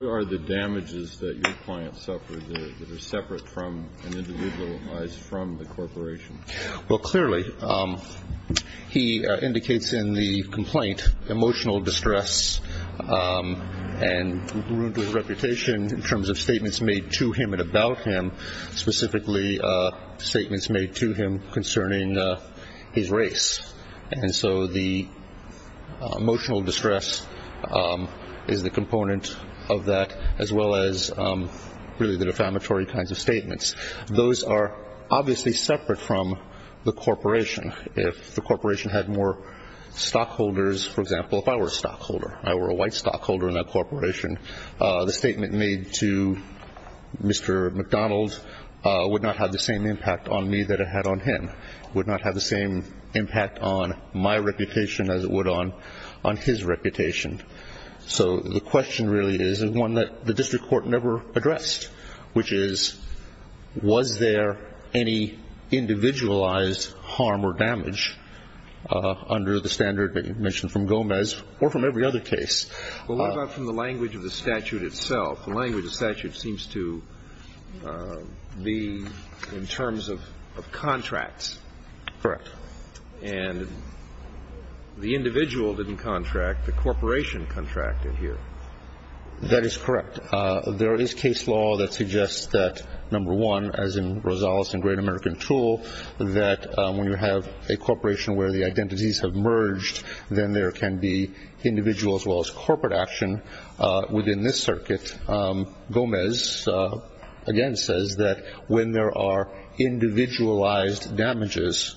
What are the damages that your client suffered that are separate from and individualized from the corporation? Well, clearly, he indicates in the complaint emotional distress and ruin to his reputation in terms of statements made to him and about him, specifically statements made to him concerning his race. And so the emotional distress is the component of that, as well as really the defamatory kinds of statements. Those are obviously separate from the corporation. If the corporation had more stockholders, for example, if I were a stockholder, if I were a white stockholder in that corporation, the statement made to Mr. McDonald would not have the same impact on me that it had on him, would not have the same impact on my reputation as it would on his reputation. So the question really is, and one that the district court never addressed, which is, was there any individualized harm or damage under the standard that you mentioned from Gomez or from every other case? Well, what about from the language of the statute itself? The language of the statute seems to be in terms of contracts. Correct. And the individual didn't contract. The corporation contracted here. That is correct. There is case law that suggests that, number one, as in Rosales and Great American Tool, that when you have a corporation where the identities have merged, then there can be individual as well as corporate action within this circuit. Gomez, again, says that when there are individualized damages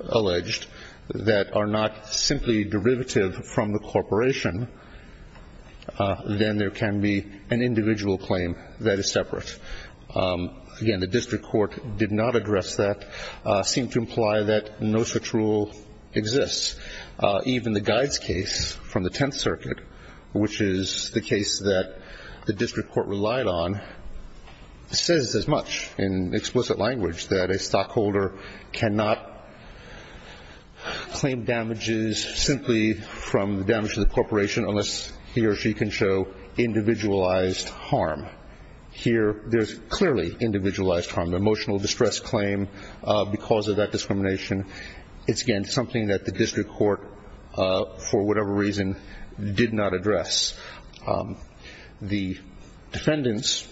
alleged that are not simply derivative from the corporation, then there can be an individual claim that is separate. Again, the district court did not address that, seemed to imply that no such rule exists. Even the Guides case from the Tenth Circuit, which is the case that the district court relied on, says as much in explicit language that a stockholder cannot claim damages simply from the damage to the corporation unless he or she can show individualized harm. Here there is clearly individualized harm, emotional distress claim because of that discrimination. It's, again, something that the district court, for whatever reason, did not address. The defendants,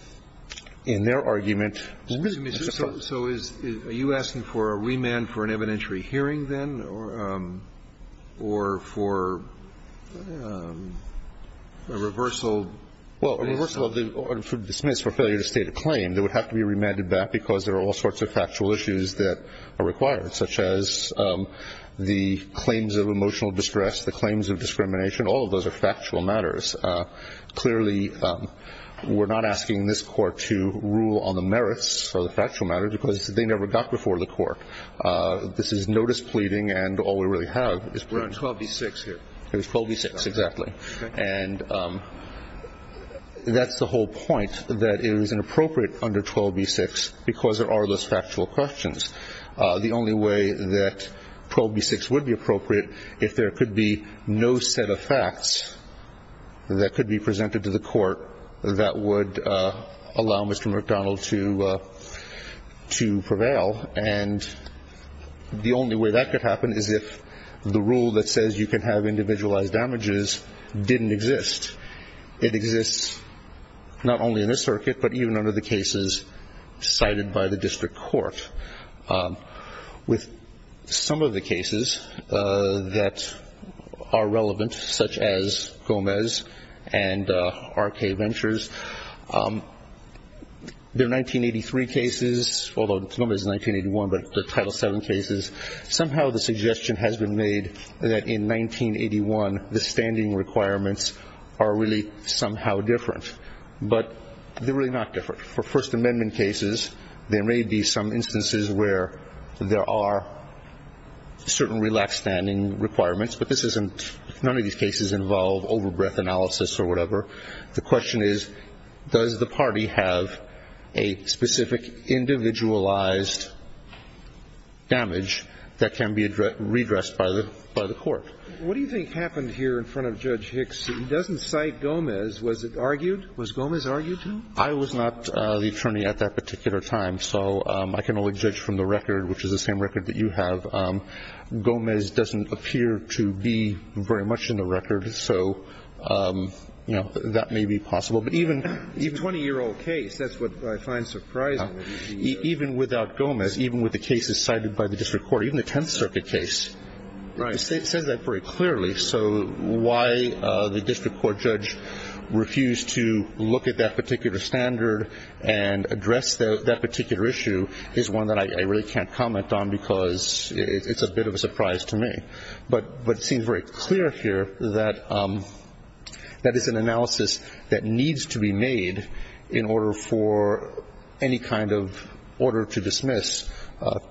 in their argument ---- So are you asking for a remand for an evidentiary hearing, then, or for a reversal ---- Well, a reversal or dismiss for failure to state a claim that would have to be remanded back because there are all sorts of factual issues that are required, such as the claims of emotional distress, the claims of discrimination. All of those are factual matters. Clearly, we're not asking this Court to rule on the merits of the factual matters because they never got before the Court. This is notice pleading, and all we really have is ---- We're on 12b-6 here. It was 12b-6, exactly. And that's the whole point, that it was inappropriate under 12b-6 because there are those factual questions. The only way that 12b-6 would be appropriate if there could be no set of facts that could be presented to the Court that would allow Mr. McDonald to prevail, and the only way that could happen is if the rule that says you can have individualized damages didn't exist. It exists not only in this circuit, but even under the cases cited by the district court. With some of the cases that are relevant, such as Gomez and R.K. Ventures, their 1983 cases, although Gomez is 1981, but the Title VII cases, somehow the suggestion has been made that in 1981 the standing requirements are really somehow different. But they're really not different. For First Amendment cases, there may be some instances where there are certain relaxed standing requirements, but this isn't ---- none of these cases involve overbreath analysis or whatever. The question is, does the party have a specific individualized damage that can be redressed by the Court? What do you think happened here in front of Judge Hicks? He doesn't cite Gomez. Was it argued? Was Gomez argued to? I was not the attorney at that particular time, so I can only judge from the record, which is the same record that you have. Gomez doesn't appear to be very much in the record. So, you know, that may be possible. But even ---- A 20-year-old case, that's what I find surprising. Even without Gomez, even with the cases cited by the district court, even the Tenth Circuit case ---- Right. It says that very clearly. So why the district court judge refused to look at that particular standard and address that particular issue is one that I really can't comment on because it's a bit of a surprise to me. But it seems very clear here that that is an analysis that needs to be made in order for any kind of order to dismiss.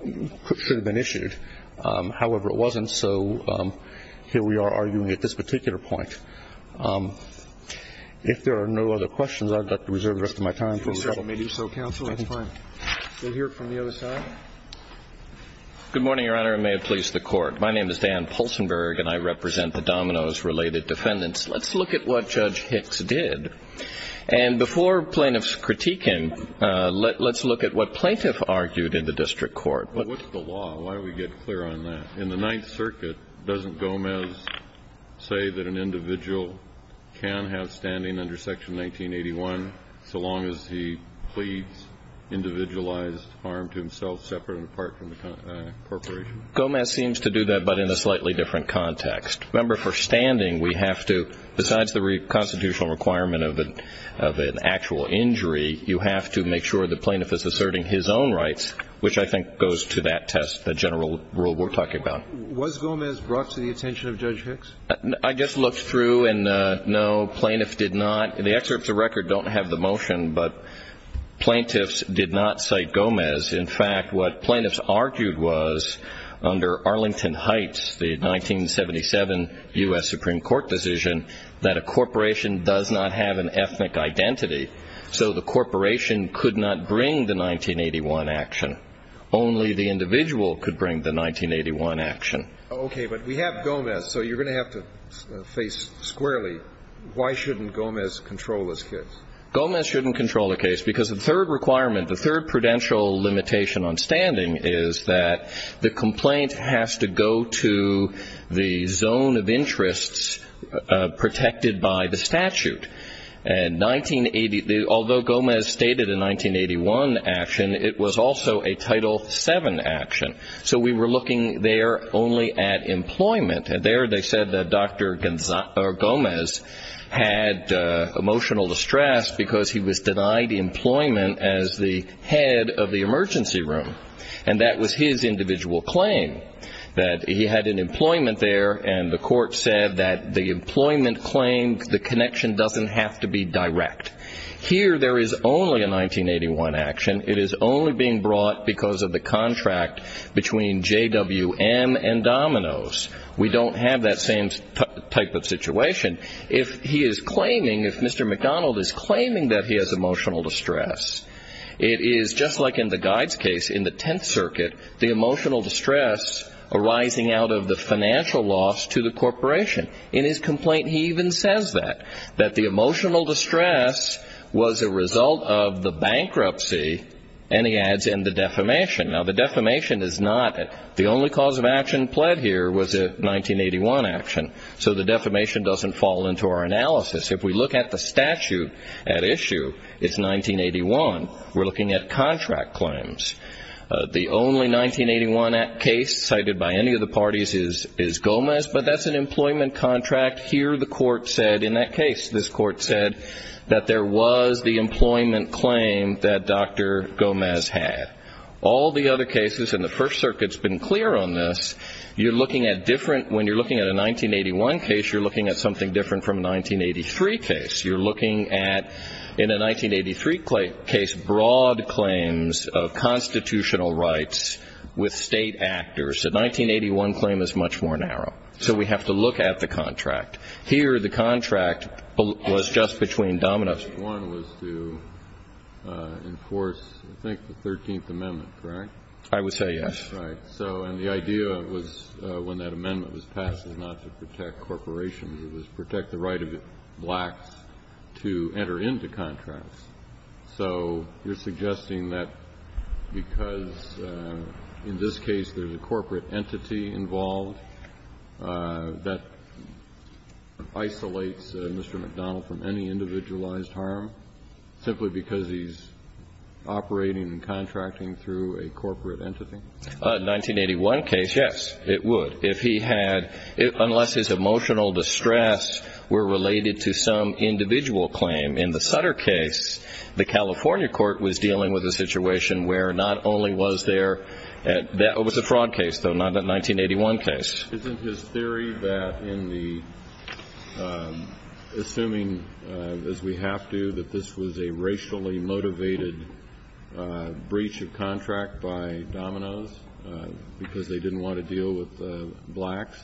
It should have been issued. However, it wasn't, so here we are arguing at this particular point. If there are no other questions, I'd like to reserve the rest of my time. If you say so, counsel, that's fine. We'll hear from the other side. Good morning, Your Honor, and may it please the Court. My name is Dan Pulsenberg, and I represent the Dominoes-related defendants. Let's look at what Judge Hicks did. And before plaintiffs critique him, let's look at what plaintiff argued in the district court. Well, what's the law? Why don't we get clear on that? In the Ninth Circuit, doesn't Gomez say that an individual can have standing under Section 1981 so long as he pleads individualized harm to himself separate and apart from the corporation? Gomez seems to do that, but in a slightly different context. Remember, for standing, we have to, besides the constitutional requirement of an actual injury, you have to make sure the plaintiff is asserting his own rights, which I think goes to that test, the general rule we're talking about. Was Gomez brought to the attention of Judge Hicks? I just looked through, and no, plaintiffs did not. The excerpts of record don't have the motion, but plaintiffs did not cite Gomez. In fact, what plaintiffs argued was, under Arlington Heights, the 1977 U.S. Supreme Court decision, that a corporation does not have an ethnic identity, so the corporation could not bring the 1981 action. Only the individual could bring the 1981 action. Okay, but we have Gomez, so you're going to have to face squarely, why shouldn't Gomez control this case? Gomez shouldn't control the case, because the third requirement, the third prudential limitation on standing, is that the complaint has to go to the zone of interests protected by the statute. And 1980, although Gomez stated a 1981 action, it was also a Title VII action, so we were looking there only at employment. And there they said that Dr. Gomez had emotional distress, because he was denied employment as the head of the emergency room. And that was his individual claim, that he had an employment there, and the court said that the employment claim, the connection doesn't have to be direct. Here, there is only a 1981 action. It is only being brought because of the contract between JWM and Domino's. We don't have that same type of situation. If he is claiming, if Mr. McDonald is claiming that he has emotional distress, it is just like in the Guides case in the Tenth Circuit, the emotional distress arising out of the financial loss to the corporation. In his complaint, he even says that, that the emotional distress was a result of the bankruptcy, and he adds in the defamation. Now, the defamation is not, the only cause of action pled here was a 1981 action, so the defamation doesn't fall into our analysis. If we look at the statute at issue, it's 1981. We're looking at contract claims. The only 1981 case cited by any of the parties is Gomez, but that's an employment contract. Here, the court said in that case, this court said that there was the employment claim that Dr. Gomez had. All the other cases in the First Circuit have been clear on this. You're looking at different, when you're looking at a 1981 case, you're looking at something different from a 1983 case. You're looking at, in a 1983 case, broad claims of constitutional rights with state actors. A 1981 claim is much more narrow, so we have to look at the contract. Here, the contract was just between Domino's. The first one was to enforce, I think, the 13th Amendment, correct? I would say yes. Right. So, and the idea was, when that amendment was passed, was not to protect corporations. It was protect the right of blacks to enter into contracts. So you're suggesting that because in this case there's a corporate entity involved, that isolates Mr. McDonald from any individualized harm, simply because he's operating and contracting through a corporate entity? A 1981 case, yes, it would. If he had, unless his emotional distress were related to some individual claim. In the Sutter case, the California court was dealing with a situation where not only was there, that was a fraud case, though, not a 1981 case. Isn't his theory that in the, assuming as we have to, that this was a racially motivated breach of contract by Domino's, because they didn't want to deal with blacks,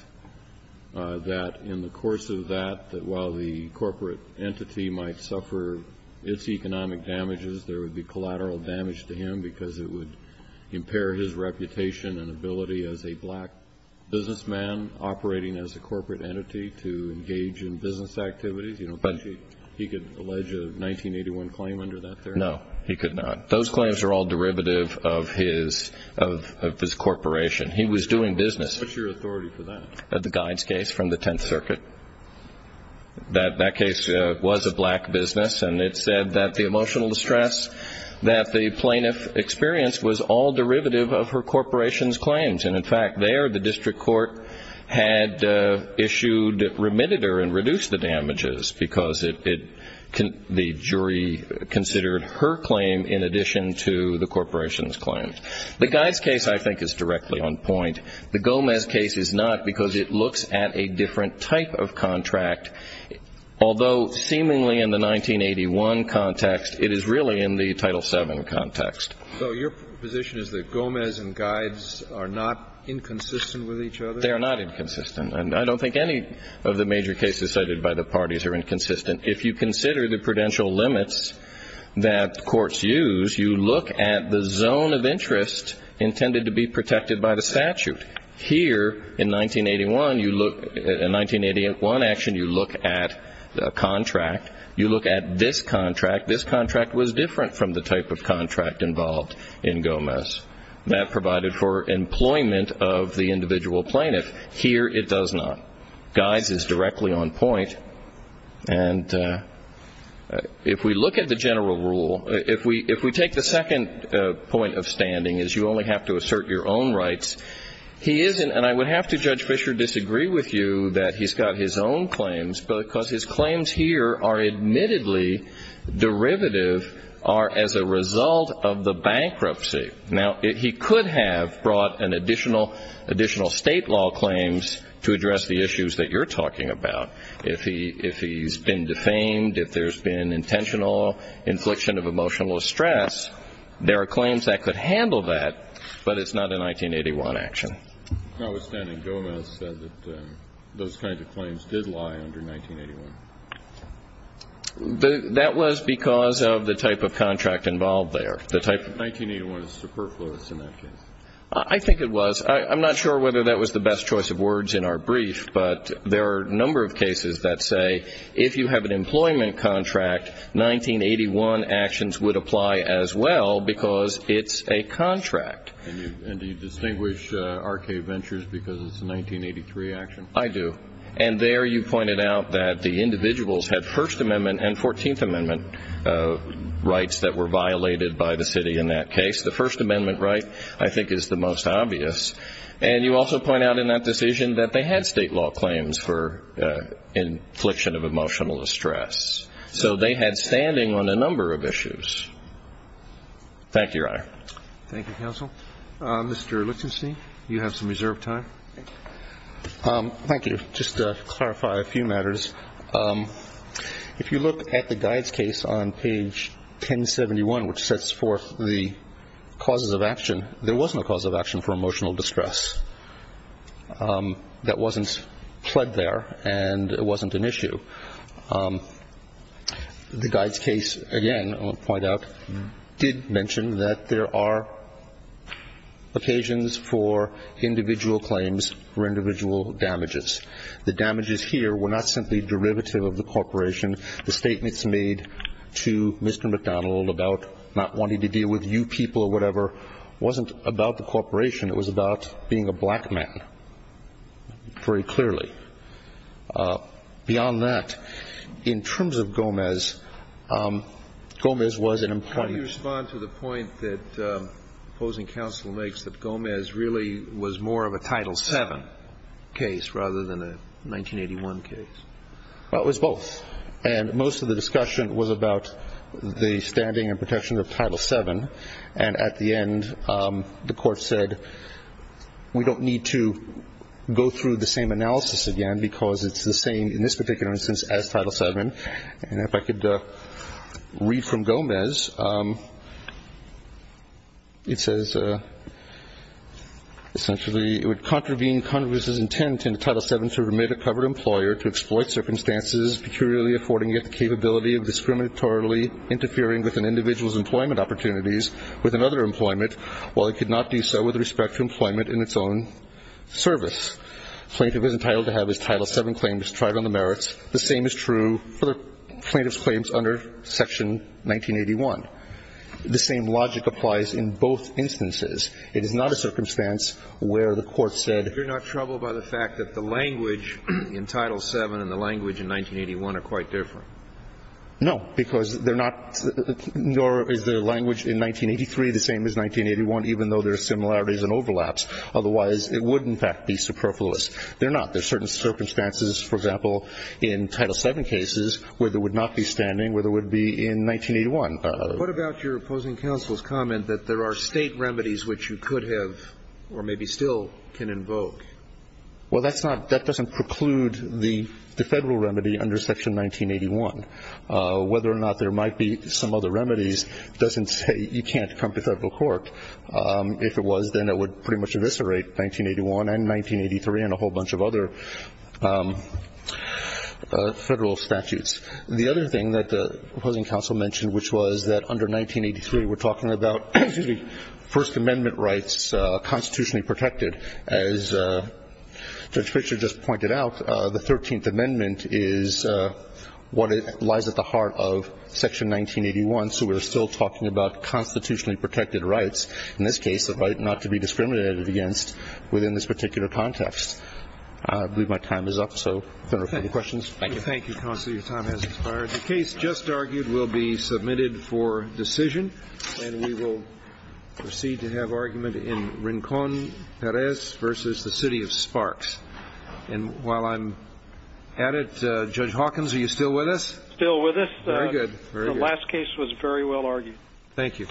that in the course of that, that while the corporate entity might suffer its economic damages, there would be collateral damage to him because it would impair his reputation and ability as a black businessman operating as a corporate entity to engage in business activities? You don't think he could allege a 1981 claim under that theory? No, he could not. Those claims are all derivative of his corporation. He was doing business. What's your authority for that? The Guides case from the Tenth Circuit. That case was a black business, and it said that the emotional distress that the plaintiff experienced was all derivative of her corporation's claims. And, in fact, there the district court had issued, remitted her and reduced the damages because the jury considered her claim in addition to the corporation's claims. The Guides case, I think, is directly on point. The Gomez case is not because it looks at a different type of contract, although seemingly in the 1981 context, it is really in the Title VII context. So your position is that Gomez and Guides are not inconsistent with each other? They are not inconsistent, and I don't think any of the major cases cited by the parties are inconsistent. If you consider the prudential limits that courts use, you look at the zone of interest intended to be protected by the statute. Here, in 1981 action, you look at a contract. You look at this contract. This contract was different from the type of contract involved in Gomez. That provided for employment of the individual plaintiff. Here it does not. Guides is directly on point. And if we look at the general rule, if we take the second point of standing, is you only have to assert your own rights. He isn't, and I would have to, Judge Fischer, disagree with you that he's got his own claims because his claims here are admittedly derivative, are as a result of the bankruptcy. Now, he could have brought an additional state law claims to address the issues that you're talking about if he's been defamed, if there's been intentional infliction of emotional stress. There are claims that could handle that, but it's not a 1981 action. Notwithstanding, Gomez said that those kinds of claims did lie under 1981. That was because of the type of contract involved there. The type of 1981 is superfluous in that case. I think it was. I'm not sure whether that was the best choice of words in our brief, but there are a number of cases that say if you have an employment contract, 1981 actions would apply as well because it's a contract. And do you distinguish RK Ventures because it's a 1983 action? I do. And there you pointed out that the individuals had First Amendment and Fourteenth Amendment rights that were violated by the city in that case. The First Amendment right, I think, is the most obvious. And you also point out in that decision that they had state law claims for infliction of emotional distress. So they had standing on a number of issues. Thank you, Your Honor. Thank you, counsel. Mr. Lichtenstein, you have some reserved time. Thank you. Just to clarify a few matters, if you look at the guides case on page 1071, which sets forth the causes of action, there was no cause of action for emotional distress. That wasn't pled there, and it wasn't an issue. The guides case, again, I want to point out, did mention that there are occasions for individual claims for individual damages. The damages here were not simply derivative of the corporation. The statements made to Mr. McDonald about not wanting to deal with you people or whatever wasn't about the corporation. It was about being a black man, very clearly. Beyond that, in terms of Gomez, Gomez was an important issue. How do you respond to the point that opposing counsel makes that Gomez really was more of a Title VII case rather than a 1981 case? Well, it was both. And most of the discussion was about the standing and protection of Title VII, and at the end the Court said we don't need to go through the same analysis again because it's the same in this particular instance as Title VII. And if I could read from Gomez, it says, essentially it would contravene Congress's intent in Title VII to remit a covered employer to exploit circumstances peculiarly affording it the capability of discriminatorily interfering with an individual's employment opportunities with another employment while it could not do so with respect to employment in its own service. Plaintiff is entitled to have his Title VII claims tried on the merits. The same is true for the plaintiff's claims under Section 1981. The same logic applies in both instances. It is not a circumstance where the Court said you're not troubled by the fact that the language in Title VII and the language in 1981 are quite different. No, because they're not, nor is the language in 1983 the same as 1981, even though there are similarities and overlaps. Otherwise, it would, in fact, be superfluous. They're not. There are certain circumstances, for example, in Title VII cases where there would not be standing, where there would be in 1981. What about your opposing counsel's comment that there are State remedies which you could have or maybe still can invoke? Well, that's not – that doesn't preclude the Federal remedy under Section 1981. Whether or not there might be some other remedies doesn't say you can't come to Federal court. If it was, then it would pretty much eviscerate 1981 and 1983 and a whole bunch of other Federal statutes. The other thing that the opposing counsel mentioned, which was that under 1983 we're talking about, excuse me, First Amendment rights constitutionally protected. As Judge Fischer just pointed out, the Thirteenth Amendment is what lies at the heart of Section 1981, so we're still talking about constitutionally protected rights, in this case the right not to be discriminated against within this particular context. I believe my time is up, so if there are no further questions, thank you. Thank you, counsel. Your time has expired. The case just argued will be submitted for decision, and we will proceed to have argument in Rincon-Perez versus the City of Sparks. And while I'm at it, Judge Hawkins, are you still with us? Still with us. Very good. The last case was very well argued. Thank you.